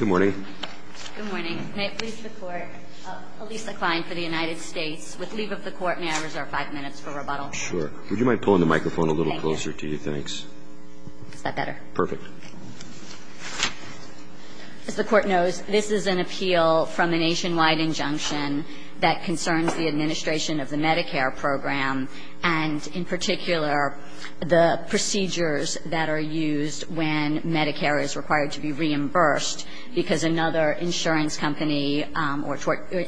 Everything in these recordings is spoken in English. Good morning. Good morning. May it please the Court, Elisa Klein for the United States. With leave of the Court, may I reserve five minutes for rebuttal? Sure. Would you mind pulling the microphone a little closer to you? Thank you. Thanks. Is that better? Perfect. As the Court knows, this is an appeal from a nationwide injunction that concerns the administration of the Medicare program and, in particular, the procedures that are used when Medicare is required to be reimbursed because another insurance company or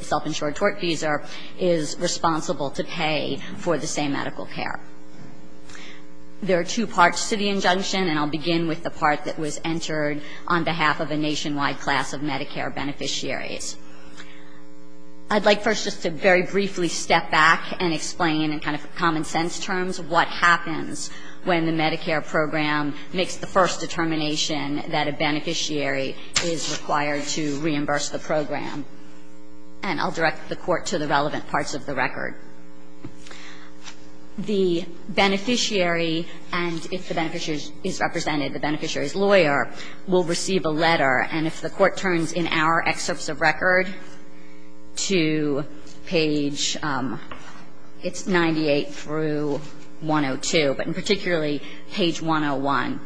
self-insured tortfeasor is responsible to pay for the same medical care. There are two parts to the injunction, and I'll begin with the part that was entered on behalf of a nationwide class of Medicare beneficiaries. I'd like first just to very briefly step back and explain in kind of common-sense terms what happens when the Medicare program makes the first determination that a beneficiary is required to reimburse the program, and I'll direct the Court to the relevant parts of the record. The beneficiary, and if the beneficiary is represented, the beneficiary's lawyer, will receive a letter, and if the Court turns in our excerpts of record to page, it's 98 through 102, but particularly page 101.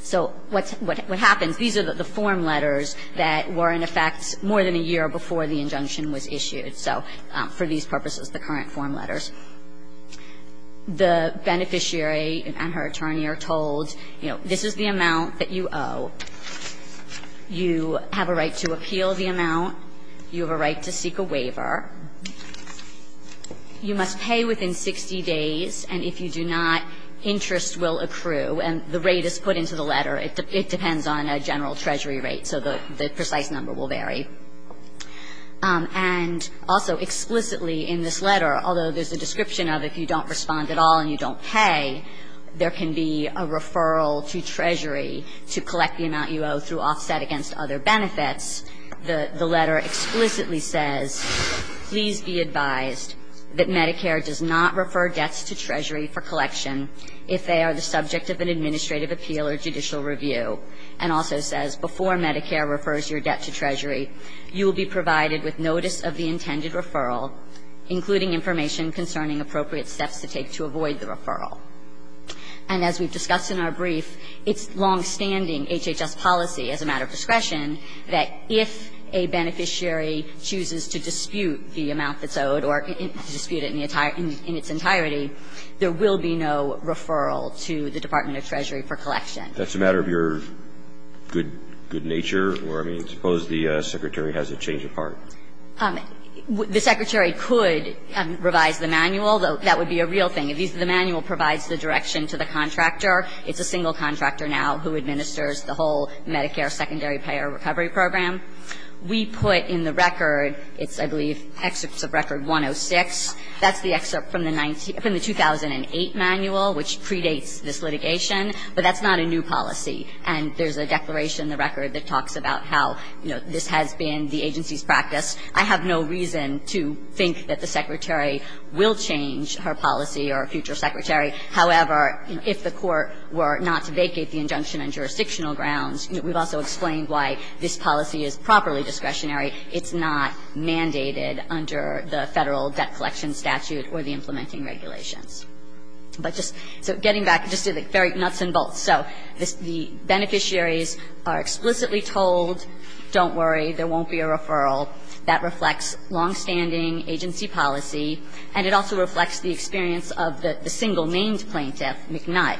So what happens, these are the form letters that were in effect more than a year before the injunction was issued. So for these purposes, the current form letters. The beneficiary and her attorney are told, you know, this is the amount that you owe. You have a right to appeal the amount. You have a right to seek a waiver. You must pay within 60 days, and if you do not, interest will accrue. And the rate is put into the letter. It depends on a general treasury rate, so the precise number will vary. And also explicitly in this letter, although there's a description of if you don't respond at all and you don't pay, there can be a referral to treasury to collect the amount you owe through offset against other benefits. The letter explicitly says, please be advised that Medicare does not refer debts to treasury for collection if they are the subject of an administrative appeal or judicial review, and also says, before Medicare refers your debt to treasury, you will be provided with notice of the intended referral, including information concerning appropriate steps to take to avoid the referral. And as we've discussed in our brief, it's longstanding HHS policy as a matter of discretion that if a beneficiary chooses to dispute the amount that's owed or dispute it in its entirety, there will be no referral to the Department of Treasury for collection. That's a matter of your good nature? Or, I mean, suppose the Secretary has a change of heart? The Secretary could revise the manual. That would be a real thing. The manual provides the direction to the contractor. It's a single contractor now who administers the whole Medicare secondary payer recovery program. We put in the record, it's, I believe, excerpts of Record 106. That's the excerpt from the 2008 manual, which predates this litigation. But that's not a new policy. And there's a declaration in the record that talks about how, you know, this has been the agency's practice. I have no reason to think that the Secretary will change her policy or a future Secretary. However, if the court were not to vacate the injunction on jurisdictional grounds, we've also explained why this policy is properly discretionary. It's not mandated under the Federal Debt Collection Statute or the implementing regulations. But just so getting back, just to the very nuts and bolts. So the beneficiaries are explicitly told, don't worry, there won't be a referral. That reflects longstanding agency policy. And it also reflects the experience of the single named plaintiff, McNutt,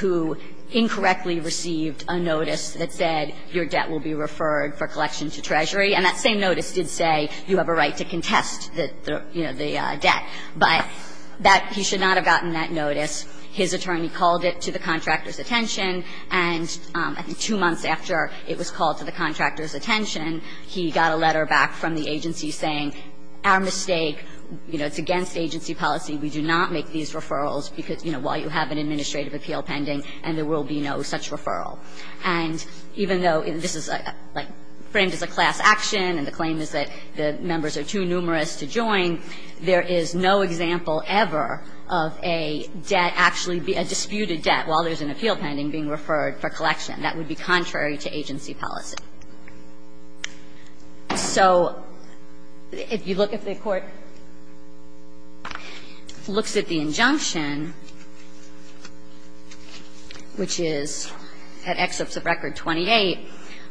who incorrectly received a notice that said your debt will be referred for collection to Treasury. And that same notice did say you have a right to contest the, you know, the debt. But that he should not have gotten that notice. His attorney called it to the contractor's attention, and I think two months after it was called to the contractor's attention, he got a letter back from the agency saying, our mistake, you know, it's against agency policy. We do not make these referrals because, you know, while you have an administrative appeal pending and there will be no such referral. And even though this is, like, framed as a class action and the claim is that the members are too numerous to join, there is no example ever of a debt actually be a disputed debt while there's an appeal pending being referred for collection. That would be contrary to agency policy. So if you look at the court, looks at the injunction, which is at Excerpts of Record 28,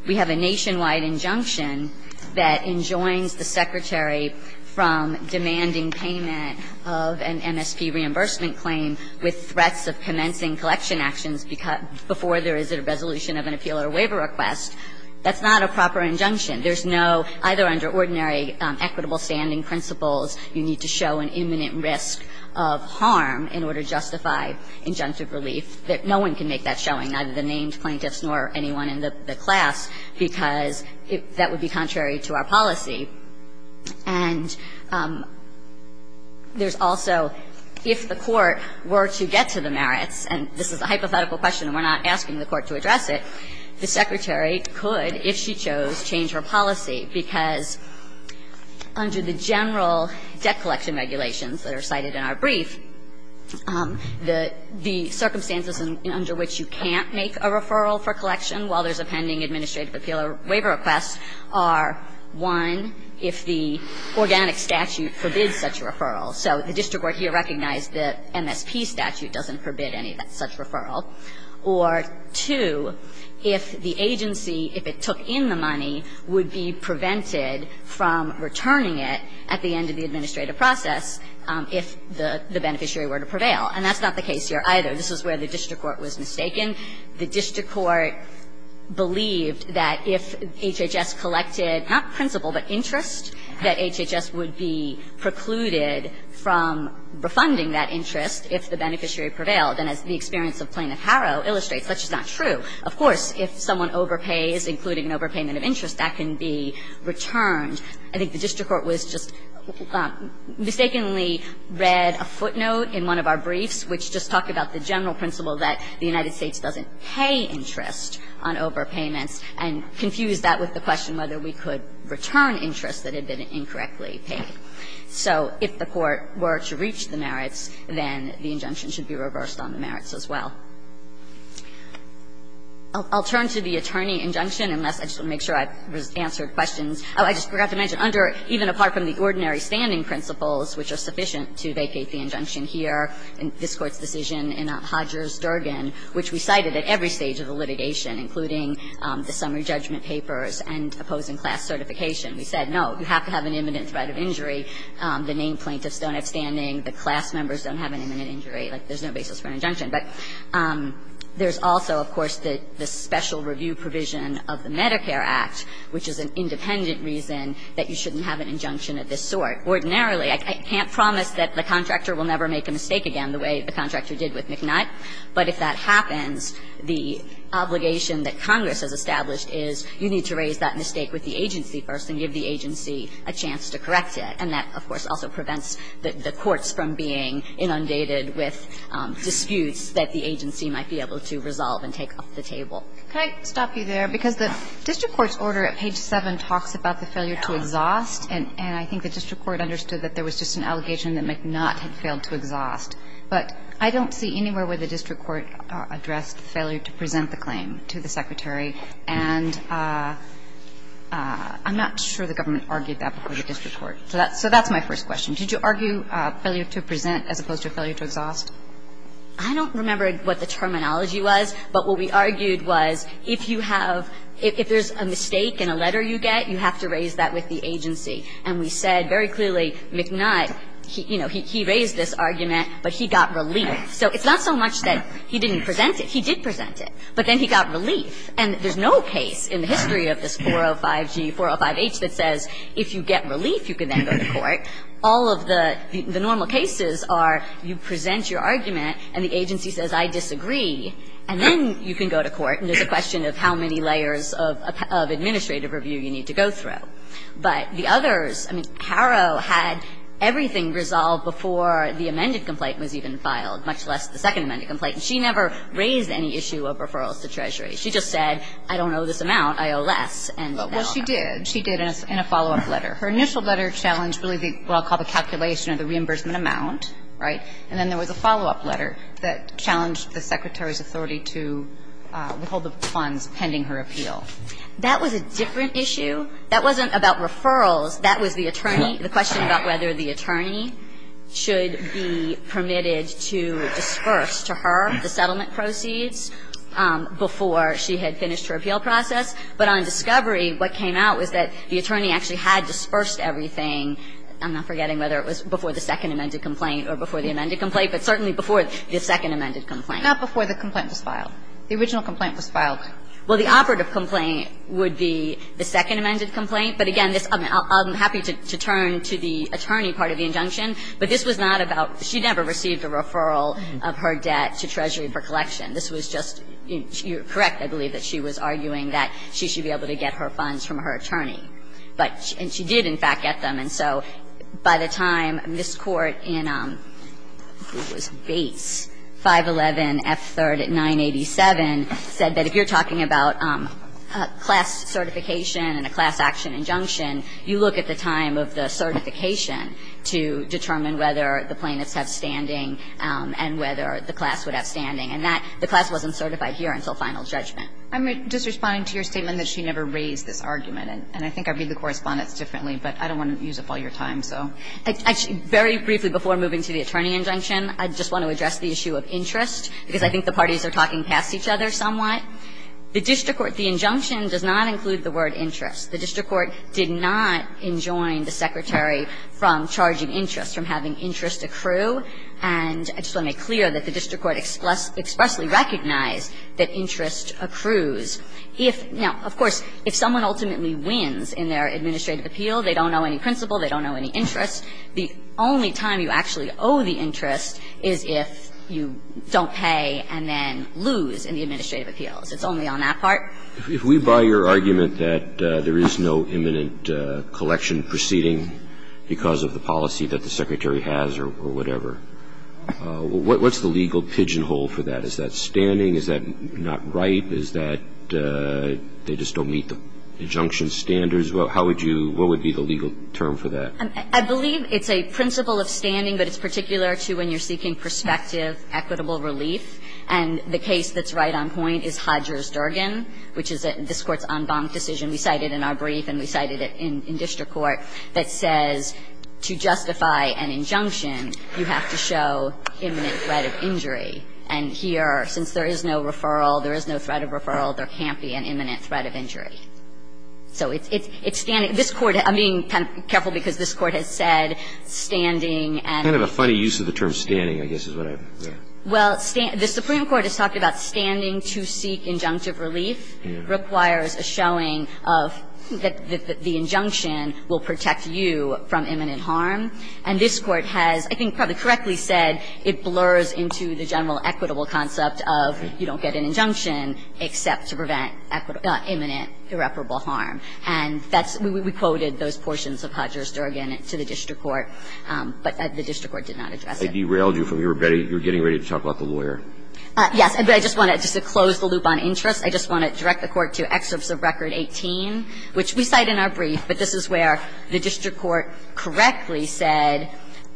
we have a nationwide injunction that enjoins the Secretary of the Treasury from demanding payment of an MSP reimbursement claim with threats of commencing collection actions before there is a resolution of an appeal or waiver request. That's not a proper injunction. There's no, either under ordinary equitable standing principles, you need to show an imminent risk of harm in order to justify injunctive relief. No one can make that showing, neither the named plaintiffs nor anyone in the class, because that would be contrary to our policy. And there's also, if the court were to get to the merits, and this is a hypothetical question and we're not asking the court to address it, the Secretary could, if she chose, change her policy, because under the general debt collection regulations that are cited in our brief, the circumstances under which you can't make a referral for collection while there's a pending administrative appeal or waiver request are, one, if the organic statute forbids such a referral. So the district court here recognized the MSP statute doesn't forbid any such referral. Or, two, if the agency, if it took in the money, would be prevented from returning it at the end of the administrative process if the beneficiary were to prevail. And that's not the case here, either. This is where the district court was mistaken. The district court believed that if HHS collected, not principle, but interest, that HHS would be precluded from refunding that interest if the beneficiary prevailed. And as the experience of Plain and Harrow illustrates, that's just not true. Of course, if someone overpays, including an overpayment of interest, that can be returned. I think the district court was just, mistakenly read a footnote in one of our briefs which just talked about the general principle that the United States doesn't pay interest on overpayments and confused that with the question whether we could return interest that had been incorrectly paid. So if the Court were to reach the merits, then the injunction should be reversed on the merits as well. I'll turn to the attorney injunction, unless I just want to make sure I've answered questions. Oh, I just forgot to mention, under, even apart from the ordinary standing principles which are sufficient to vacate the injunction here, this Court's decision in Hodger's Durgan, which we cited at every stage of the litigation, including the summary judgment papers and opposing class certification, we said, no, you have to have an imminent threat of injury. The named plaintiffs don't have standing. The class members don't have an imminent injury. Like, there's no basis for an injunction. But there's also, of course, the special review provision of the Medicare Act, which is an independent reason that you shouldn't have an injunction of this sort. Ordinarily, I can't promise that the contractor will never make a mistake again the way the contractor did with McNutt, but if that happens, the obligation that Congress has established is you need to raise that mistake with the agency first and give the agency a chance to correct it. And that, of course, also prevents the courts from being inundated with disputes that the agency might be able to resolve and take off the table. Can I stop you there? Because the district court's order at page 7 talks about the failure to exhaust, and I think the district court understood that there was just an allegation that McNutt had failed to exhaust. But I don't see anywhere where the district court addressed failure to present the claim to the Secretary. And I'm not sure the government argued that before the district court. So that's my first question. Did you argue failure to present as opposed to failure to exhaust? I don't remember what the terminology was. But what we argued was if you have – if there's a mistake in a letter you get, you have to raise that with the agency. And we said very clearly, McNutt, you know, he raised this argument, but he got relief. So it's not so much that he didn't present it. He did present it. But then he got relief. And there's no case in the history of this 405G, 405H that says if you get relief, you can then go to court. All of the normal cases are you present your argument and the agency says, I disagree, and then you can go to court, and there's a question of how many layers of administrative review you need to go through. But the others – I mean, Harrow had everything resolved before the amended complaint was even filed, much less the second amended complaint. And she never raised any issue of referrals to Treasury. She just said, I don't owe this amount. I owe less. And now – Well, she did. She did in a follow-up letter. Her initial letter challenged really what I'll call the calculation of the reimbursement amount, right? And then there was a follow-up letter that challenged the Secretary's authority to withhold the funds pending her appeal. That was a different issue. That wasn't about referrals. That was the attorney – the question about whether the attorney should be permitted to disperse to her the settlement proceeds before she had finished her appeal process. But on discovery, what came out was that the attorney actually had dispersed everything. I'm not forgetting whether it was before the second amended complaint or before the amended complaint, but certainly before the second amended complaint. Not before the complaint was filed. The original complaint was filed. Well, the operative complaint would be the second amended complaint. But again, this – I'm happy to turn to the attorney part of the injunction. But this was not about – she never received a referral of her debt to Treasury for collection. This was just – you're correct, I believe, that she was arguing that she should be able to get her funds from her attorney. But – and she did, in fact, get them. And so by the time Ms. Court in – who was Bates? 511F3rd at 987 said that if you're talking about class certification and a class action injunction, you look at the time of the certification to determine whether the plaintiffs have standing and whether the class would have standing. And that – the class wasn't certified here until final judgment. I'm just responding to your statement that she never raised this argument. And I think I read the correspondence differently, but I don't want to use up all your time, so. Actually, very briefly before moving to the attorney injunction, I just want to address the issue of interest, because I think the parties are talking past each other somewhat. The district court – the injunction does not include the word interest. The district court did not enjoin the Secretary from charging interest, from having interest accrue. And I just want to make clear that the district court expressly recognized that interest accrues. If – now, of course, if someone ultimately wins in their administrative appeal, they don't owe any principal, they don't owe any interest, the only time you actually owe the interest is if you don't pay and then lose in the administrative appeals. It's only on that part. If we buy your argument that there is no imminent collection proceeding because of the policy that the Secretary has or whatever, what's the legal pigeonhole for that? Is that standing? Is that not right? Is that they just don't meet the injunction standards? How would you – what would be the legal term for that? I believe it's a principle of standing, but it's particular to when you're seeking prospective equitable relief. And the case that's right on point is Hodger's-Durgan, which is this Court's en banc decision. We cited it in our brief and we cited it in district court, that says to justify an injunction, you have to show imminent threat of injury. And here, since there is no referral, there is no threat of referral, there can't be an imminent threat of injury. So it's standing. This Court – I'm being kind of careful because this Court has said standing and – Kind of a funny use of the term standing, I guess, is what I – yeah. Well, the Supreme Court has talked about standing to seek injunctive relief. Yeah. Requires a showing of that the injunction will protect you from imminent harm. And this Court has, I think, probably correctly said it blurs into the general equitable concept of you don't get an injunction except to prevent imminent irreparable harm. And that's – we quoted those portions of Hodger's-Durgan to the district court, but the district court did not address it. They derailed you from your – you were getting ready to talk about the lawyer. Yes. But I just want to – just to close the loop on interest, I just want to direct the Court to excerpts of Record 18, which we cite in our brief, but this is where the district court correctly said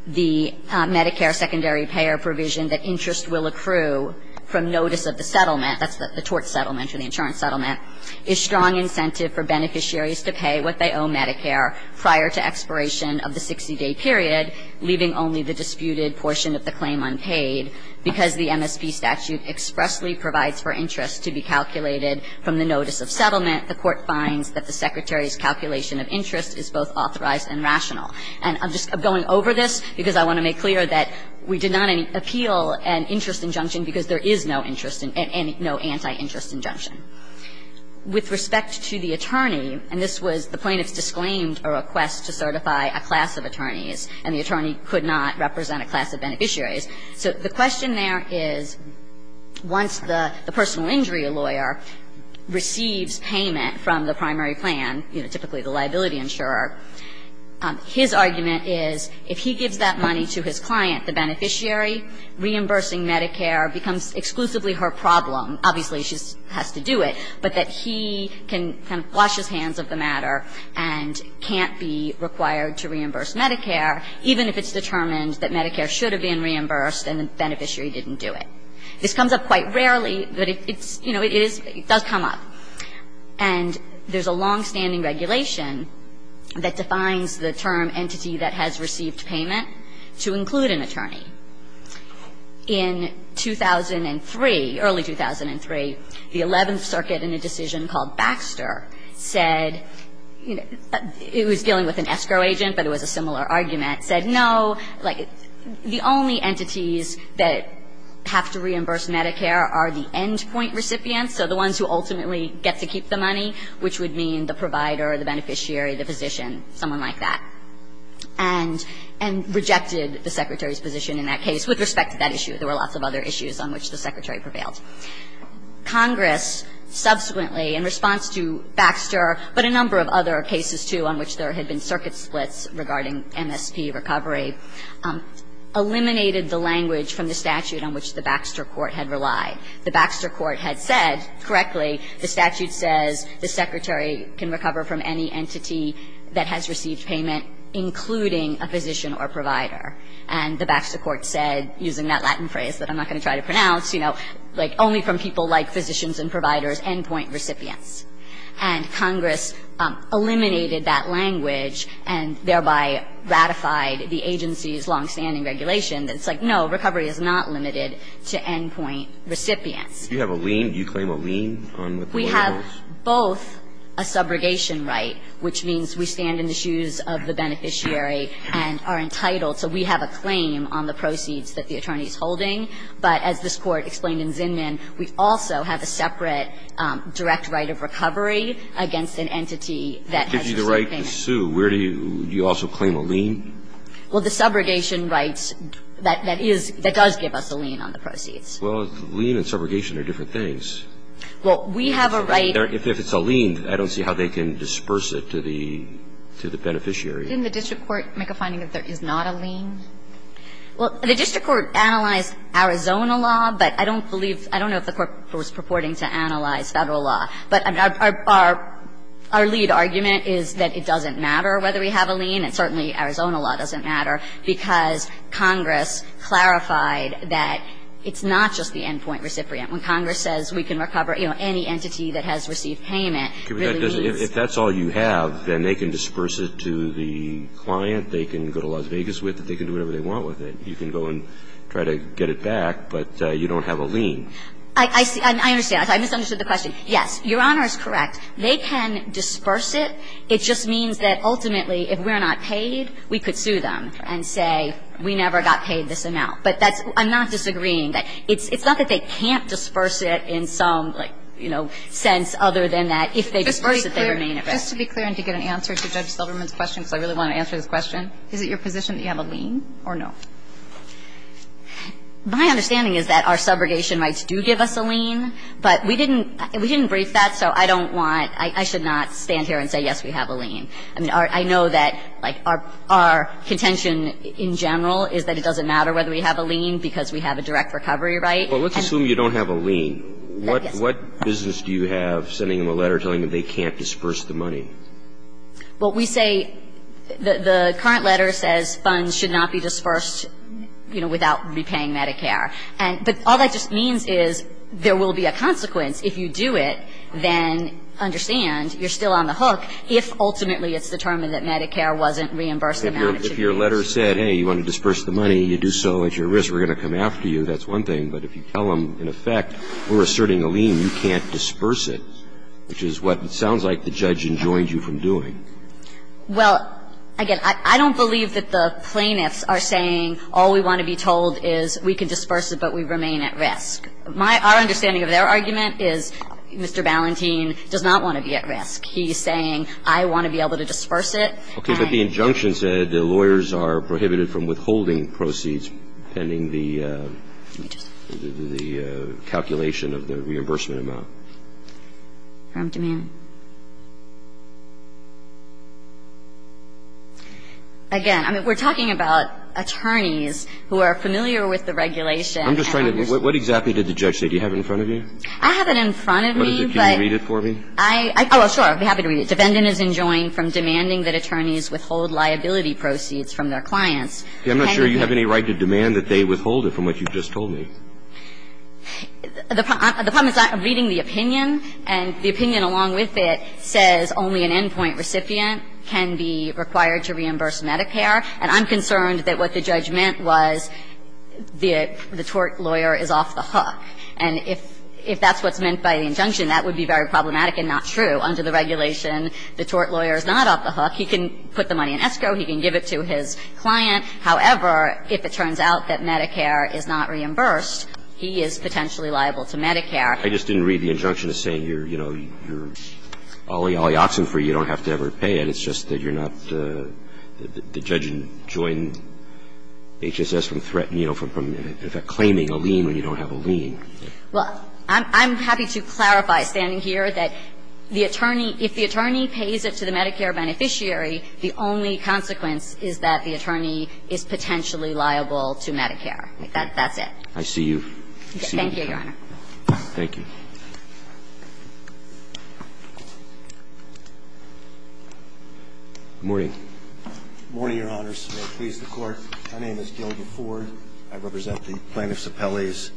the Medicare secondary payer provision that interest will accrue from notice of the settlement – that's the tort settlement or the insurance settlement – is strong incentive for beneficiaries to pay what they owe Medicare prior to expiration of the 60-day period, leaving only the disputed portion of the claim unpaid because the MSP statute expressly provides for interest to be calculated from the notice of settlement. The Court finds that the Secretary's calculation of interest is both authorized and rational. And I'm just going over this because I want to make clear that we did not appeal an interest injunction because there is no interest and no anti-interest injunction. With respect to the attorney, and this was the plaintiff's disclaimed request to certify a class of attorneys, and the attorney could not represent a class of beneficiaries. So the question there is, once the personal injury lawyer receives payment from the primary plan, you know, typically the liability insurer, his argument is if he gives that money to his client, the beneficiary, reimbursing Medicare becomes exclusively her problem. Obviously, she has to do it, but that he can kind of wash his hands of the matter and can't be required to reimburse Medicare, even if it's determined that Medicare should have been reimbursed and the beneficiary didn't do it. This comes up quite rarely, but it's – you know, it is – it does come up. And there's a longstanding regulation that defines the term entity that has received payment to include an attorney. In 2003, early 2003, the Eleventh Circuit in a decision called Baxter said – it was dealing with an escrow agent, but it was a similar argument – said, no, like, the only entities that have to reimburse Medicare are the endpoint recipients, so the ones who ultimately get to keep the money, which would mean the provider or the beneficiary, the physician, someone like that. And rejected the Secretary's position in that case with respect to that issue. There were lots of other issues on which the Secretary prevailed. Congress subsequently, in response to Baxter, but a number of other cases, too, on which there had been circuit splits regarding MSP recovery, eliminated the language from the statute on which the Baxter Court had relied. The Baxter Court had said, correctly, the statute says the Secretary can recover from any entity that has received payment, including a physician or provider. And the Baxter Court said, using that Latin phrase that I'm not going to try to pronounce, you know, like, only from people like physicians and providers, endpoint recipients. And Congress eliminated that language and thereby ratified the agency's longstanding regulation that's like, no, recovery is not limited to endpoint recipients. Do you have a lien? Do you claim a lien on what the law holds? We have both a subrogation right, which means we stand in the shoes of the beneficiary and are entitled. So we have a claim on the proceeds that the attorney is holding. But as this Court explained in Zinman, we also have a separate direct right of recovery against an entity that has received payment. That gives you the right to sue. Where do you also claim a lien? Well, the subrogation rights, that is, that does give us a lien on the proceeds. Well, lien and subrogation are different things. Well, we have a right. If it's a lien, I don't see how they can disperse it to the beneficiary. Didn't the district court make a finding that there is not a lien? Well, the district court analyzed Arizona law, but I don't believe, I don't know if the court was purporting to analyze Federal law. But our lead argument is that it doesn't matter whether we have a lien, and certainly Arizona law doesn't matter, because Congress clarified that it's not just the endpoint or the recipient. When Congress says we can recover, you know, any entity that has received payment really means. If that's all you have, then they can disperse it to the client, they can go to Las Vegas with it, they can do whatever they want with it. You can go and try to get it back, but you don't have a lien. I see. I understand. I misunderstood the question. Yes, Your Honor is correct. They can disperse it. It just means that ultimately if we're not paid, we could sue them and say we never got paid this amount. But that's, I'm not disagreeing. It's not that they can't disperse it in some, like, you know, sense other than that. If they disperse it, they remain at rest. Just to be clear and to get an answer to Judge Silverman's question, because I really want to answer this question, is it your position that you have a lien or no? My understanding is that our subrogation rights do give us a lien, but we didn't brief that, so I don't want, I should not stand here and say, yes, we have a lien. I mean, I know that, like, our contention in general is that it doesn't matter whether we have a lien because we have a direct recovery right. Well, let's assume you don't have a lien. What business do you have sending them a letter telling them they can't disperse the money? Well, we say, the current letter says funds should not be dispersed, you know, without repaying Medicare. But all that just means is there will be a consequence if you do it, then understand you're still on the hook if ultimately it's determined that Medicare wasn't reimbursed the amount it should be. If your letter said, hey, you want to disperse the money, you do so at your risk, we're going to come after you, that's one thing. But if you tell them, in effect, we're asserting a lien, you can't disperse it, which is what it sounds like the judge enjoined you from doing. Well, again, I don't believe that the plaintiffs are saying all we want to be told is we can disperse it, but we remain at risk. Our understanding of their argument is Mr. Ballantine does not want to be at risk. He's saying I want to be able to disperse it. Okay, but the injunction said lawyers are prohibited from withholding proceeds pending the calculation of the reimbursement amount. From demand. Again, I mean, we're talking about attorneys who are familiar with the regulation. I'm just trying to understand. What exactly did the judge say? Do you have it in front of you? I have it in front of me. Can you read it for me? Oh, sure. I'd be happy to read it. The defendant is enjoined from demanding that attorneys withhold liability proceeds from their clients. I'm not sure you have any right to demand that they withhold it from what you just told me. The problem is I'm reading the opinion, and the opinion along with it says only an endpoint recipient can be required to reimburse Medicare. And I'm concerned that what the judge meant was the tort lawyer is off the hook. And if that's what's meant by the injunction, that would be very problematic and not true. Under the regulation, the tort lawyer is not off the hook. He can put the money in escrow. He can give it to his client. However, if it turns out that Medicare is not reimbursed, he is potentially liable to Medicare. I just didn't read the injunction as saying you're, you know, you're olly olly oxen free. You don't have to ever pay it. It's just that you're not the judge enjoined HSS from threatening, you know, from claiming a lien when you don't have a lien. Well, I'm happy to clarify standing here that the attorney – if the attorney pays it to the Medicare beneficiary, the only consequence is that the attorney is potentially liable to Medicare. That's it. I see you. Thank you, Your Honor. Thank you. Good morning. Good morning, Your Honors. May it please the Court. My name is Gilbert Ford. I represent the plaintiffs' appellees.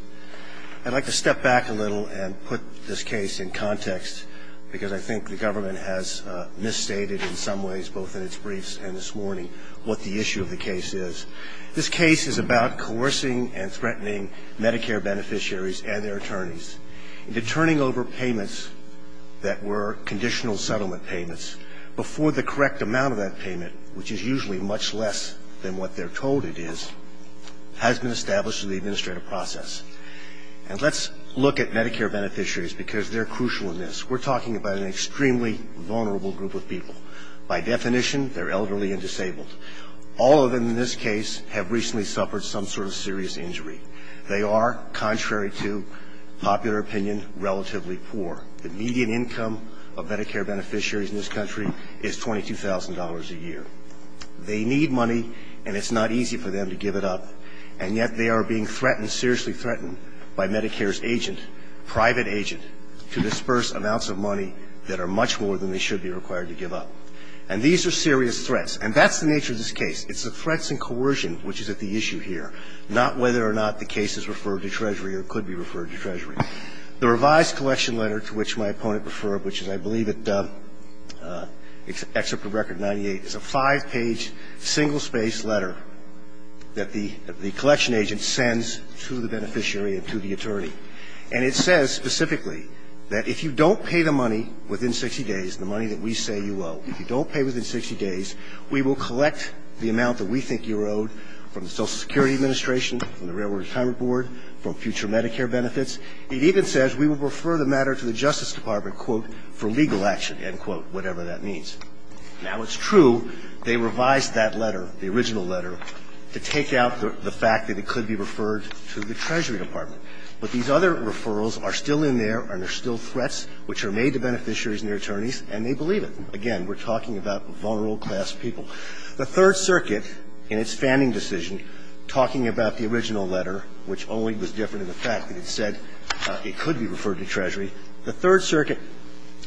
I'd like to step back a little and put this case in context, because I think the government has misstated in some ways, both in its briefs and this morning, what the issue of the case is. This case is about coercing and threatening Medicare beneficiaries and their attorneys into turning over payments that were conditional settlement payments before the correct amount of that payment, which is usually much less than what they're told it is, has been established through the administrative process. And let's look at Medicare beneficiaries, because they're crucial in this. We're talking about an extremely vulnerable group of people. By definition, they're elderly and disabled. All of them in this case have recently suffered some sort of serious injury. They are, contrary to popular opinion, relatively poor. The median income of Medicare beneficiaries in this country is $22,000 a year. They need money, and it's not easy for them to give it up. And yet they are being threatened, seriously threatened, by Medicare's agent, private agent, to disperse amounts of money that are much more than they should be required to give up. And these are serious threats. And that's the nature of this case. It's the threats and coercion which is at the issue here, not whether or not the case is referred to Treasury or could be referred to Treasury. The revised collection letter to which my opponent referred, which is, I believe, it's Excerpt from Record 98. It's a five-page, single-space letter that the collection agent sends to the beneficiary and to the attorney. And it says specifically that if you don't pay the money within 60 days, the money that we say you owe, if you don't pay within 60 days, we will collect the amount that we think you're owed from the Social Security Administration, from the Railroad Retirement Board, from future Medicare benefits. It even says we will refer the matter to the Justice Department, quote, for legal action, end quote, whatever that means. Now, it's true they revised that letter, the original letter, to take out the fact that it could be referred to the Treasury Department. But these other referrals are still in there and they're still threats which are made to beneficiaries and their attorneys, and they believe it. Again, we're talking about vulnerable class people. The Third Circuit, in its fanning decision, talking about the original letter, which only was different in the fact that it said it could be referred to Treasury, the Third Circuit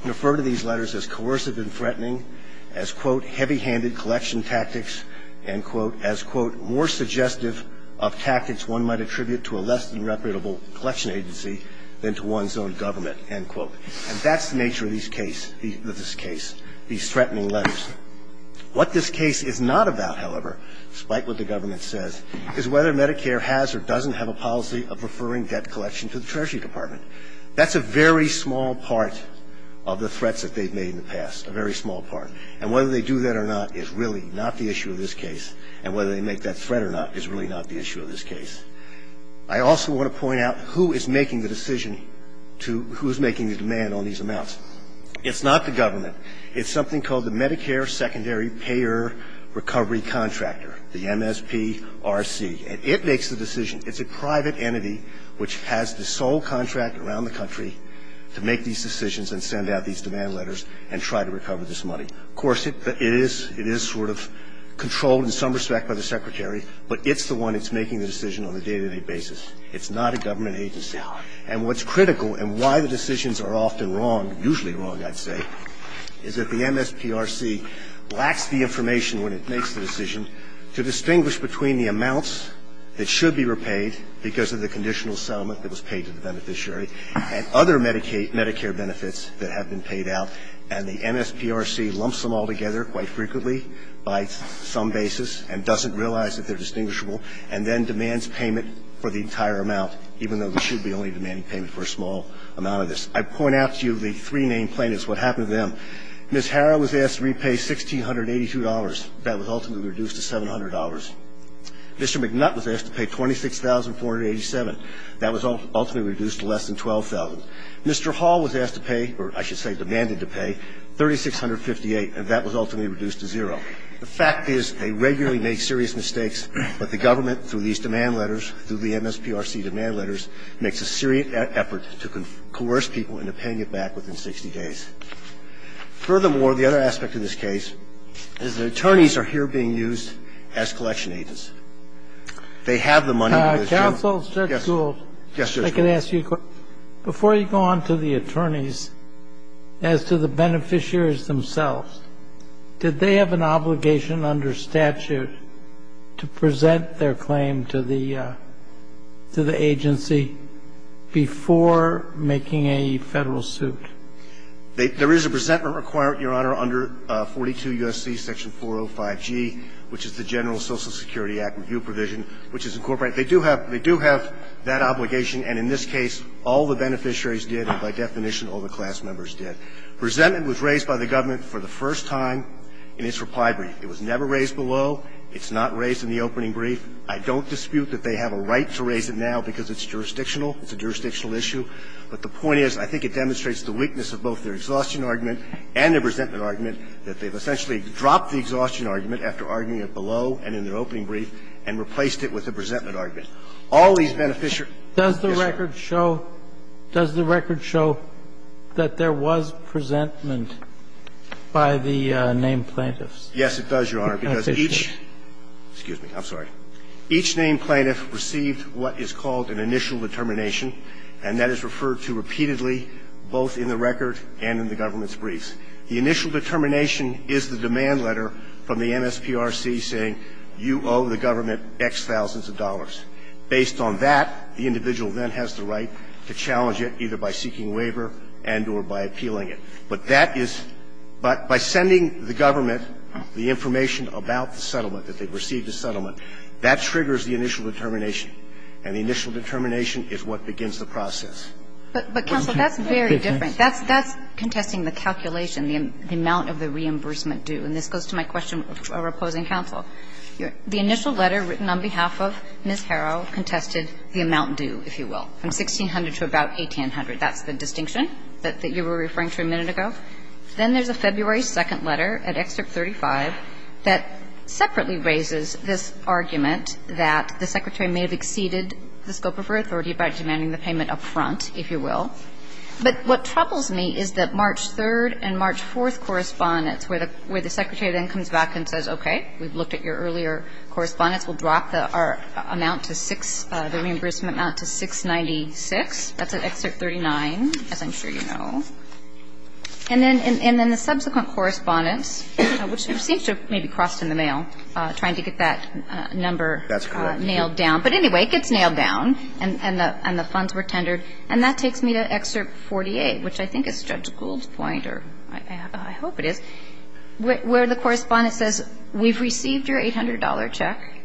referred to these letters as coercive and threatening, as, quote, heavy-handed collection tactics, end quote, as, quote, more suggestive of tactics one might attribute to a less than reputable collection agency than to one's own government, end quote. And that's the nature of these case – of this case, these threatening letters. What this case is not about, however, despite what the government says, is whether Medicare has or doesn't have a policy of referring debt collection to the Treasury Department. That's a very small part of the threats that they've made in the past, a very small part. And whether they do that or not is really not the issue of this case. And whether they make that threat or not is really not the issue of this case. I also want to point out who is making the decision to – who is making the demand on these amounts. It's not the government. It's something called the Medicare Secondary Payer Recovery Contractor, the MSPRC. And it makes the decision. It's a private entity which has the sole contract around the country to make these decisions and send out these demand letters and try to recover this money. Of course, it is – it is sort of controlled in some respect by the Secretary, but it's the one that's making the decision on a day-to-day basis. It's not a government agency. And what's critical and why the decisions are often wrong, usually wrong, I'd say, is that the MSPRC lacks the information when it makes the decision to distinguish between the amounts that should be repaid because of the conditional settlement that was paid to the beneficiary and other Medicare benefits that have been paid out, and the MSPRC lumps them all together quite frequently by some basis and doesn't realize that they're distinguishable, and then demands payment for the entire amount, even though they should be only demanding payment for a small amount of this. I point out to you the three named plaintiffs, what happened to them. Ms. Hara was asked to repay $1,682. That was ultimately reduced to $700. Mr. McNutt was asked to pay $26,487. That was ultimately reduced to less than $12,000. Mr. Hall was asked to pay – or I should say demanded to pay $3,658, and that was ultimately reduced to zero. The fact is they regularly make serious mistakes, but the government, through these demand letters, through the MSPRC demand letters, makes a serious effort to coerce people into paying it back within 60 days. Furthermore, the other aspect of this case is the attorneys are here being used as collection agents. They have the money. Yes, Judge Gould. Before you go on to the attorneys, as to the beneficiaries themselves, did they have an obligation under statute to present their claim to the agency before making a Federal suit? There is a presentment requirement, Your Honor, under 42 U.S.C. section 405G, which is the General Social Security Act review provision, which is incorporated. They do have that obligation, and in this case, all the beneficiaries did, and by definition, all the class members did. Presentment was raised by the government for the first time in its reply brief. It was never raised below. It's not raised in the opening brief. I don't dispute that they have a right to raise it now because it's jurisdictional. It's a jurisdictional issue. But the point is, I think it demonstrates the weakness of both their exhaustion argument and their presentment argument, that they've essentially dropped the exhaustion argument after arguing it below and in their opening brief and replaced it with a presentment argument. All these beneficiaries Does the record show that there was presentment by the named plaintiffs? Yes, it does, Your Honor, because each named plaintiff received what is called an initial determination, and that is referred to repeatedly both in the record and in the government's briefs. The initial determination is the demand letter from the MSPRC saying you owe the government X thousands of dollars. Based on that, the individual then has the right to challenge it either by seeking waiver and or by appealing it. But that is by sending the government the information about the settlement, that they've received the settlement, that triggers the initial determination. And the initial determination is what begins the process. But, Counsel, that's very different. That's contesting the calculation, the amount of the reimbursement due. And this goes to my question for opposing counsel. The initial letter written on behalf of Ms. Harrow contested the amount due, if you will, from $1,600 to about $1,800. That's the distinction that you were referring to a minute ago. Then there's a February 2nd letter at Excerpt 35 that separately raises this argument that the Secretary may have exceeded the scope of her authority by demanding the payment up front, if you will. But what troubles me is that March 3rd and March 4th correspondence, where the Secretary then comes back and says, okay, we've looked at your earlier correspondence, we'll drop the amount to 6 the reimbursement amount to 696. That's at Excerpt 39, as I'm sure you know. And then the subsequent correspondence, which seems to have maybe crossed in the mail, trying to get that number nailed down. That's correct. But anyway, it gets nailed down, and the funds were tendered. And that takes me to Excerpt 48, which I think is Judge Gould's point, or I hope it is, where the correspondent says, we've received your $800 check.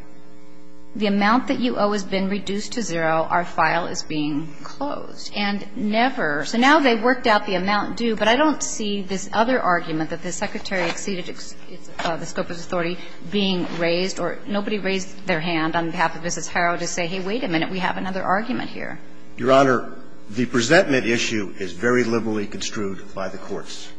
The amount that you owe has been reduced to zero. Our file is being closed. And never. So now they've worked out the amount due, but I don't see this other argument that the Secretary exceeded the scope of his authority being raised, or nobody raised their hand on behalf of Mrs. Harrell to say, hey, wait a minute, we have another argument here. Your Honor, the presentment issue is very liberally construed by the courts.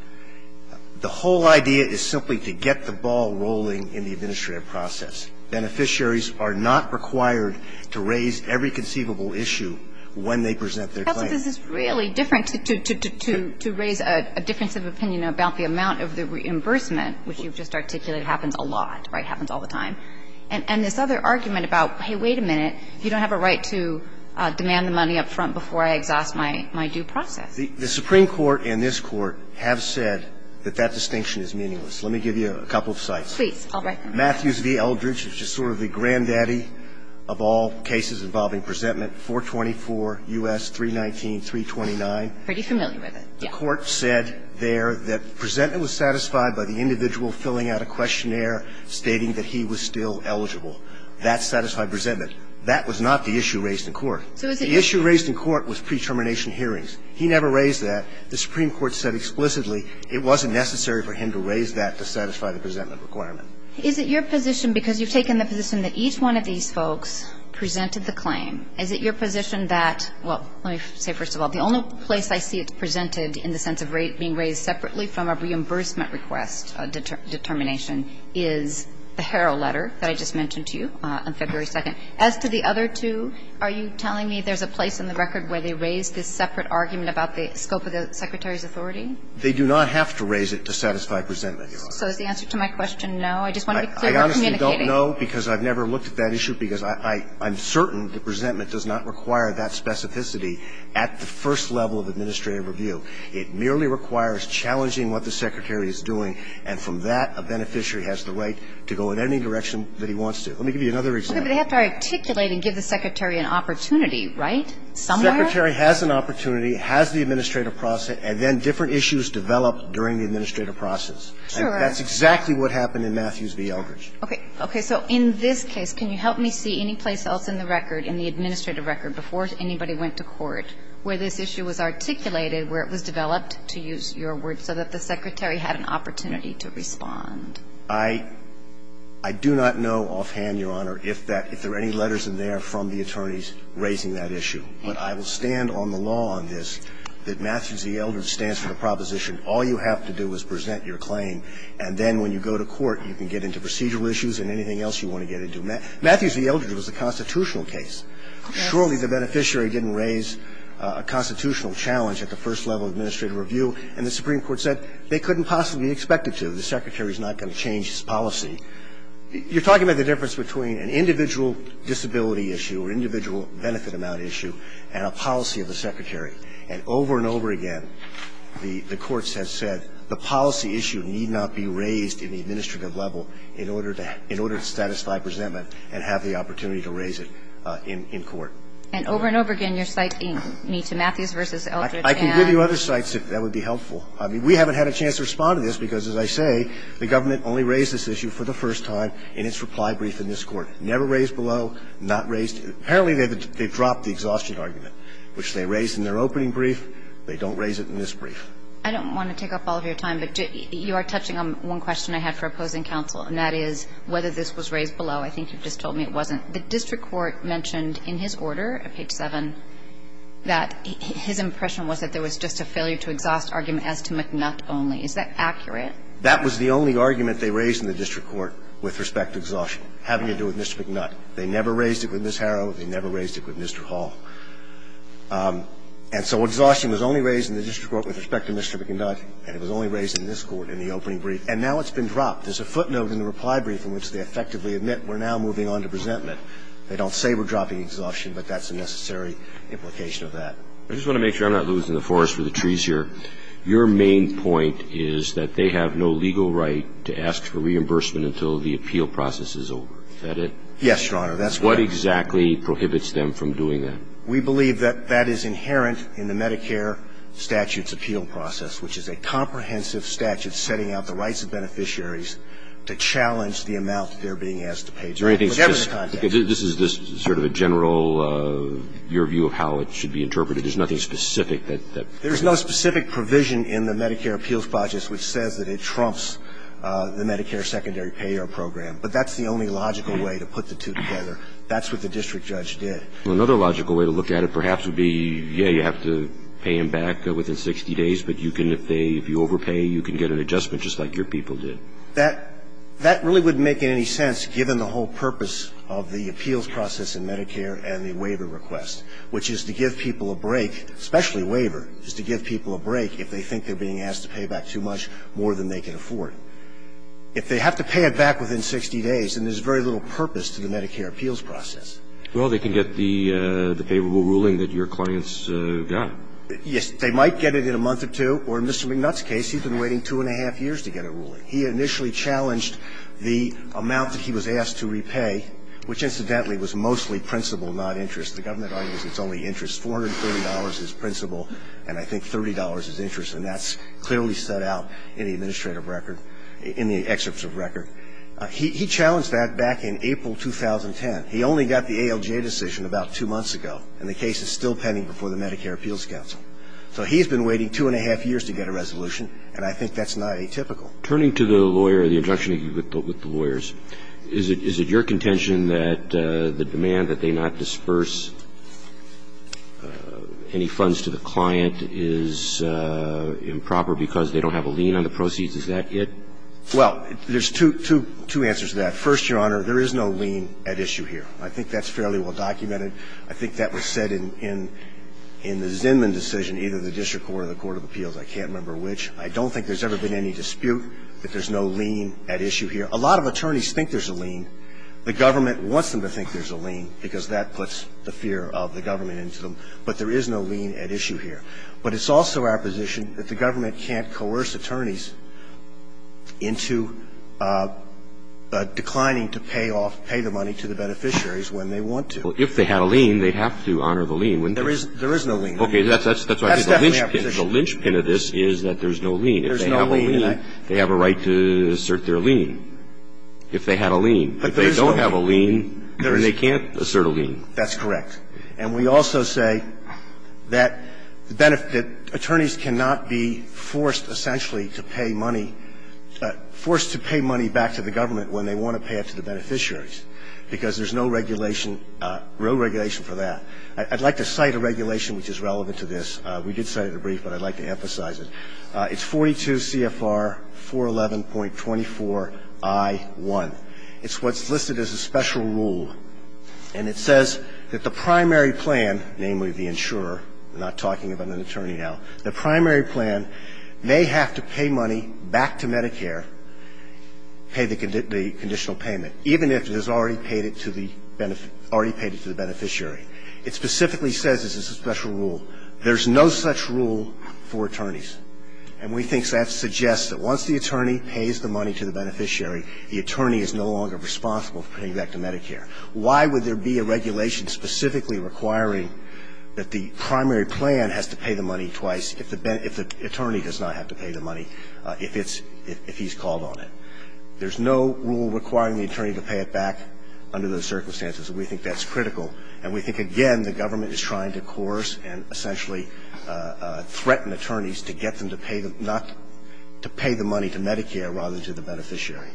The whole idea is simply to get the ball rolling in the administrative process. Beneficiaries are not required to raise every conceivable issue when they present their claim. But this is really different to raise a difference of opinion about the amount of the reimbursement, which you've just articulated happens a lot, right, happens all the time, and this other argument about, hey, wait a minute, you don't have a right to demand the money up front before I exhaust my due process. The Supreme Court and this Court have said that that distinction is meaningless. Let me give you a couple of sites. Please. All right. Matthews v. Eldridge, which is sort of the granddaddy of all cases involving presentment, 424 U.S. 319, 329. Pretty familiar with it. The court said there that presentment was satisfied by the individual filling out a questionnaire stating that he was still eligible. That satisfied presentment. That was not the issue raised in court. The issue raised in court was pre-termination hearings. He never raised that. The Supreme Court said explicitly it wasn't necessary for him to raise that to satisfy the presentment requirement. Is it your position, because you've taken the position that each one of these folks presented the claim, is it your position that, well, let me say first of all, the only place I see it presented in the sense of being raised separately from a reimbursement request determination is the Harrell letter that I just mentioned to you on February 2nd? As to the other two, are you telling me there's a place in the record where they raised this separate argument about the scope of the Secretary's authority? They do not have to raise it to satisfy presentment. So is the answer to my question no? I just want to be clear we're communicating. I don't know, because I've never looked at that issue, because I'm certain that presentment does not require that specificity at the first level of administrative review. It merely requires challenging what the Secretary is doing, and from that, a beneficiary has the right to go in any direction that he wants to. Let me give you another example. Okay, but they have to articulate and give the Secretary an opportunity, right, somewhere? The Secretary has an opportunity, has the administrative process, and then different issues develop during the administrative process. Sure. And that's exactly what happened in Matthews v. Eldridge. Okay. Okay. So in this case, can you help me see any place else in the record, in the administrative record, before anybody went to court, where this issue was articulated, where it was developed, to use your words, so that the Secretary had an opportunity to respond? I do not know offhand, Your Honor, if that – if there are any letters in there from the attorneys raising that issue. But I will stand on the law on this, that Matthews v. Eldridge stands for the proposition all you have to do is present your claim, and then when you go to court, you can get into procedural issues and anything else you want to get into. Matthews v. Eldridge was a constitutional case. Surely the beneficiary didn't raise a constitutional challenge at the first level of administrative review, and the Supreme Court said they couldn't possibly expect it to. The Secretary's not going to change his policy. You're talking about the difference between an individual disability issue, or individual benefit amount issue, and a policy of the Secretary. And over and over again, you're citing me to Matthews v. Eldridge, and — I can give you other sites if that would be helpful. I mean, we haven't had a chance to respond to this, because, as I say, the government only raised this issue for the first time in its reply brief in this Court. Never raised below, not raised — apparently, they've dropped the exhaustion argument, which they raised in their opening brief. They don't raise it in this brief. I don't want to take up all of your time, but you are touching on one question I had for opposing counsel, and that is whether this was raised below. I think you just told me it wasn't. The district court mentioned in his order at page 7 that his impression was that there was just a failure-to-exhaust argument as to McNutt only. Is that accurate? That was the only argument they raised in the district court with respect to exhaustion, having to do with Mr. McNutt. They never raised it with Ms. Harrell. They never raised it with Mr. Hall. And so exhaustion was only raised in the district court with respect to Mr. McNutt, and it was only raised in this Court in the opening brief. And now it's been dropped. There's a footnote in the reply brief in which they effectively admit we're now moving on to resentment. They don't say we're dropping exhaustion, but that's a necessary implication of that. I just want to make sure I'm not losing the forest for the trees here. Your main point is that they have no legal right to ask for reimbursement until the appeal process is over. Is that it? Yes, Your Honor. That's correct. What exactly prohibits them from doing that? We believe that that is inherent in the Medicare statutes appeal process, which is a comprehensive statute setting out the rights of beneficiaries to challenge the amount they're being asked to pay, whichever the context. This is just sort of a general, your view of how it should be interpreted. There's nothing specific that prohibits it. There's no specific provision in the Medicare appeals process which says that it trumps the Medicare secondary payer program. But that's the only logical way to put the two together. That's what the district judge did. Another logical way to look at it perhaps would be, yeah, you have to pay him back within 60 days, but you can, if you overpay, you can get an adjustment just like your people did. That really wouldn't make any sense given the whole purpose of the appeals process in Medicare and the waiver request, which is to give people a break, especially waiver, is to give people a break if they think they're being asked to pay back too much more than they can afford. If they have to pay it back within 60 days, then there's very little purpose to the Medicare appeals process. Well, they can get the favorable ruling that your clients got. Yes, they might get it in a month or two, or in Mr. McNutt's case, he'd been waiting two and a half years to get a ruling. He initially challenged the amount that he was asked to repay, which incidentally was mostly principal, not interest. The government argues it's only interest. $430 is principal, and I think $30 is interest, and that's clearly set out in the administrative record, in the excerpts of record. He challenged that back in April 2010. He only got the ALJ decision about two months ago, and the case is still pending before the Medicare Appeals Council. So he's been waiting two and a half years to get a resolution, and I think that's not atypical. Turning to the lawyer, the injunction with the lawyers, is it your contention that the demand that they not disperse any funds to the client is improper because they don't have a lien on the proceeds? Is that it? Well, there's two answers to that. First, Your Honor, there is no lien at issue here. I think that's fairly well documented. I think that was said in the Zinman decision, either the district court or the court of appeals. I can't remember which. I don't think there's ever been any dispute that there's no lien at issue here. A lot of attorneys think there's a lien. The government wants them to think there's a lien because that puts the fear of the government into them. But there is no lien at issue here. But it's also our position that the government can't coerce attorneys into a decline to pay off, pay the money to the beneficiaries when they want to. Well, if they had a lien, they'd have to honor the lien, wouldn't they? There is no lien. Okay. That's why I think the linchpin of this is that there's no lien. If they have a lien, they have a right to assert their lien, if they had a lien. But if they don't have a lien, then they can't assert a lien. That's correct. And we also say that attorneys cannot be forced, essentially, to pay money, forced to pay money back to the government when they want to pay it to the beneficiaries because there's no regulation, real regulation for that. I'd like to cite a regulation which is relevant to this. We did cite it a brief, but I'd like to emphasize it. It's 42 CFR 411.24i1. It's what's listed as a special rule. And it says that the primary plan, namely the insurer, not talking about an attorney now, the primary plan may have to pay money back to Medicare, pay the conditional payment, even if it has already paid it to the beneficiary. It specifically says this is a special rule. There's no such rule for attorneys. And we think that suggests that once the attorney pays the money to the beneficiary, the attorney is no longer responsible for paying back to Medicare. Why would there be a regulation specifically requiring that the primary plan has to pay the money twice if the attorney does not have to pay the money if he's called on it? There's no rule requiring the attorney to pay it back under those circumstances. We think that's critical. And we think, again, the government is trying to coerce and essentially threaten attorneys to get them to pay the money to Medicare rather than to the beneficiary.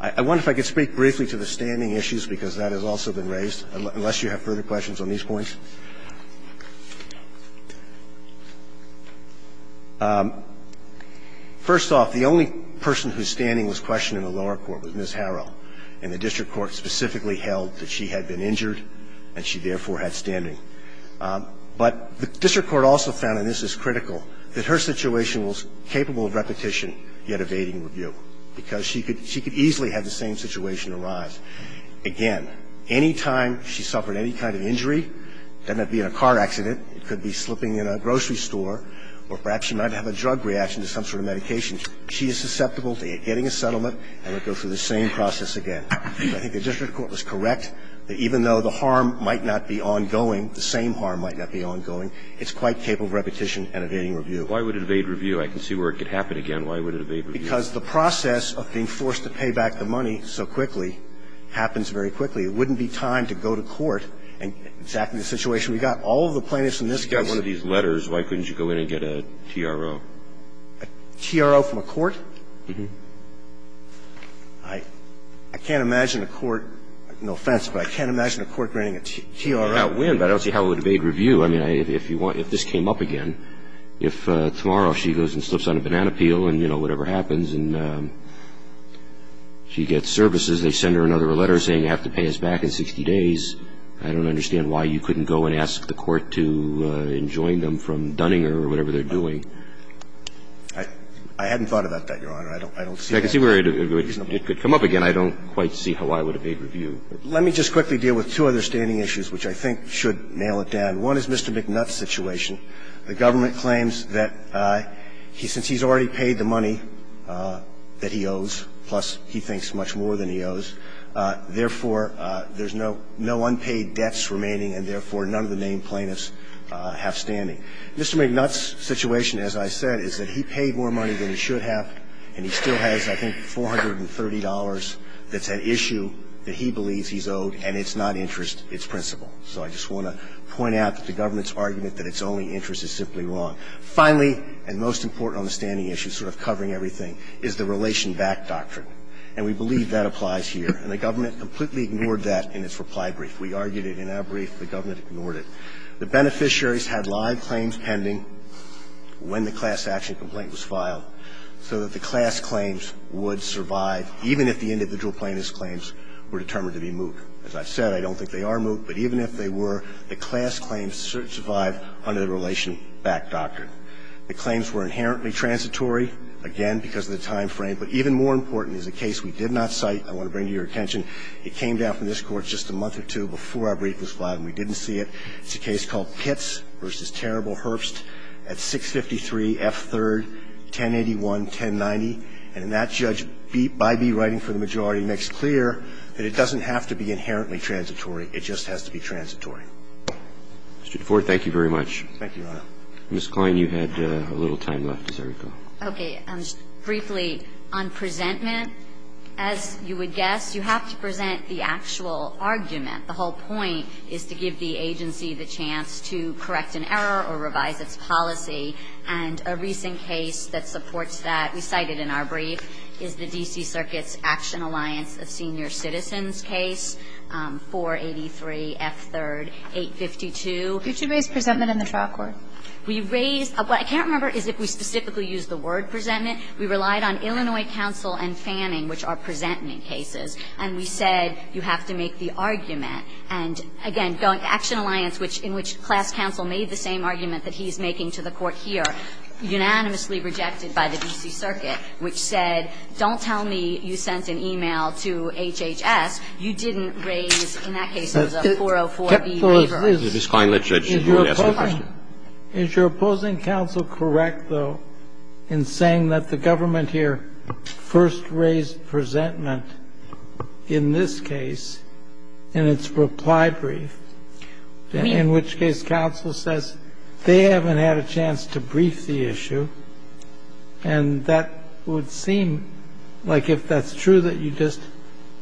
I wonder if I could speak briefly to the standing issues, because that has also been raised, unless you have further questions on these points. First off, the only person whose standing was questioned in the lower court was Ms. Harrell, and the district court specifically held that she had been injured and she, therefore, had standing. But the district court also found, and this is critical, that her situation was capable of repetition, yet evading review, because she could easily have the same situation arise. Again, any time she suffered any kind of injury, it doesn't have to be in a car accident. It could be slipping in a grocery store, or perhaps she might have a drug reaction to some sort of medication. She is susceptible to getting a settlement and would go through the same process again. I think the district court was correct that even though the harm might not be ongoing, the same harm might not be ongoing, it's quite capable of repetition and evading review. Why would it evade review? I can see where it could happen again. Why would it evade review? Because the process of being forced to pay back the money so quickly happens very quickly. It wouldn't be time to go to court and exactly the situation we got. All of the plaintiffs in this case would have been able to get a TRO from a court. I can't imagine a court, no offense, but I can't imagine a court granting a TRO. I don't see how it would evade review. I mean, if this came up again, if tomorrow she goes and slips on a banana peel and then, you know, whatever happens, and she gets services, they send her another letter saying you have to pay us back in 60 days, I don't understand why you couldn't go and ask the court to enjoin them from Dunninger or whatever they're doing. I hadn't thought about that, Your Honor. I don't see that. If it could come up again, I don't quite see how I would evade review. Let me just quickly deal with two other standing issues which I think should nail it down. One is Mr. McNutt's situation. The government claims that since he's already paid the money that he owes, plus he thinks much more than he owes, therefore, there's no unpaid debts remaining and, therefore, none of the named plaintiffs have standing. Mr. McNutt's situation, as I said, is that he paid more money than he should have, and he still has, I think, $430 that's at issue that he believes he's owed, and it's not interest, it's principle. So I just want to point out that the government's argument that it's only interest is simply wrong. Finally, and most important on the standing issue, sort of covering everything, is the relation-back doctrine. And we believe that applies here. And the government completely ignored that in its reply brief. We argued it in our brief. The government ignored it. The beneficiaries had live claims pending when the class action complaint was filed so that the class claims would survive even if the individual plaintiff's claims were determined to be moot. As I've said, I don't think they are moot, but even if they were, the class claims survive under the relation-back doctrine. The claims were inherently transitory, again, because of the time frame. But even more important is a case we did not cite. I want to bring to your attention. It came down from this Court just a month or two before our brief was filed, and we didn't see it. It's a case called Pitts v. Terrible Herbst at 653 F. 3rd, 1081-1090. And that judge, by bewriting for the majority, makes clear that it doesn't have to be inherently transitory. It just has to be transitory. Mr. DeFord, thank you very much. Thank you, Your Honor. Ms. Klein, you had a little time left. Is there a problem? Okay. Briefly, on presentment, as you would guess, you have to present the actual argument. The whole point is to give the agency the chance to correct an error or revise its policy. And a recent case that supports that, we cited in our brief, is the D.C. Circuit's action alliance of senior citizens case, 483 F. 3rd, 852. Did you raise presentment in the trial court? We raised – what I can't remember is if we specifically used the word presentment. We relied on Illinois counsel and Fanning, which are presentment cases. And we said, you have to make the argument. And again, going to action alliance, which – in which class counsel made the same argument that he's making to the Court here, unanimously rejected by the D.C. Circuit, which said, don't tell me you sent an e-mail to HHS, you didn't raise, in that case, it was a 404B waiver. Ms. Klein, let's judge your answer to the question. Is your opposing counsel correct, though, in saying that the government here first raised presentment in this case in its reply brief, in which case counsel says they haven't had a chance to brief the issue? And that would seem like if that's true, that you just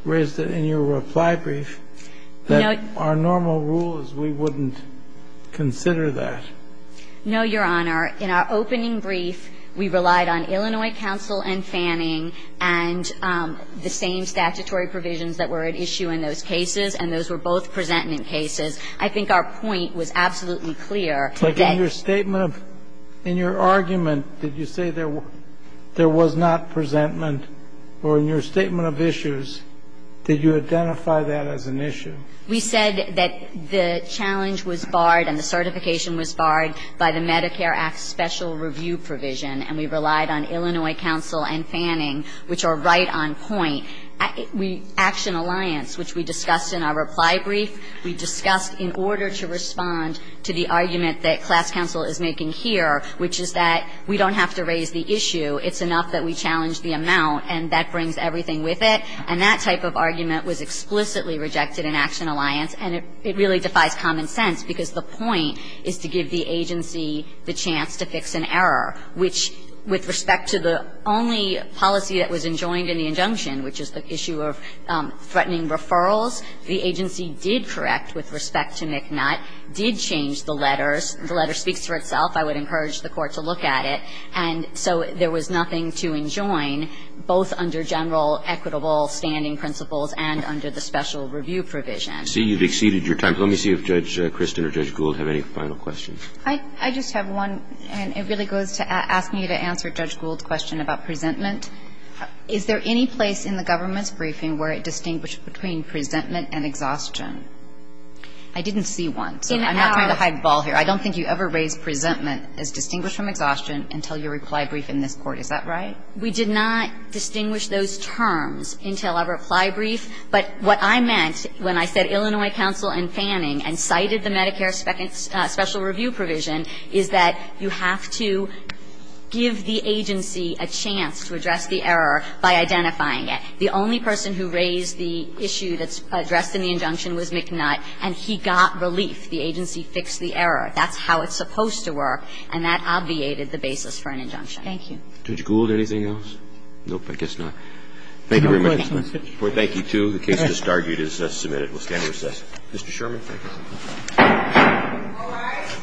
raised it in your reply brief, that our normal rule is we wouldn't consider that. No, Your Honor. In our opening brief, we relied on Illinois counsel and Fanning and the same statutory provisions that were at issue in those cases, and those were both presentment cases. I think our point was absolutely clear. But in your statement of – in your argument, did you say there was not presentment? Or in your statement of issues, did you identify that as an issue? We said that the challenge was barred and the certification was barred by the Medicare Act special review provision, and we relied on Illinois counsel and Fanning, which are right on point. Action Alliance, which we discussed in our reply brief, we discussed in order to respond to the argument that class counsel is making here, which is that we don't have to raise the issue. It's enough that we challenge the amount, and that brings everything with it. And that type of argument was explicitly rejected in Action Alliance, and it really defies common sense, because the point is to give the agency the chance to fix an error, which, with respect to the only policy that was enjoined in the injunction, which is the issue of threatening referrals, the agency did correct with respect to McNutt, did change the letters. The letter speaks for itself. I would encourage the Court to look at it. And so there was nothing to enjoin, both under general equitable standing principles and under the special review provision. I see you've exceeded your time. Let me see if Judge Kristen or Judge Gould have any final questions. I just have one, and it really goes to asking you to answer Judge Gould's question about presentment. Is there any place in the government's briefing where it distinguished between presentment and exhaustion? I didn't see one, so I'm not trying to hide the ball here. I don't think you ever raised presentment as distinguished from exhaustion until your reply brief in this Court. Is that right? We did not distinguish those terms until our reply brief. But what I meant when I said Illinois counsel and Fanning and cited the Medicare special review provision is that you have to give the agency a chance to address the error by identifying it. The only person who raised the issue that's addressed in the injunction was the agency. And that's how it's supposed to work, and that obviated the basis for an injunction. Thank you. Judge Gould, anything else? No, I guess not. Thank you very much, Justice Ginsburg. Well, thank you, too. The case just argued is submitted. We'll stand recess. Mr. Sherman, thank you.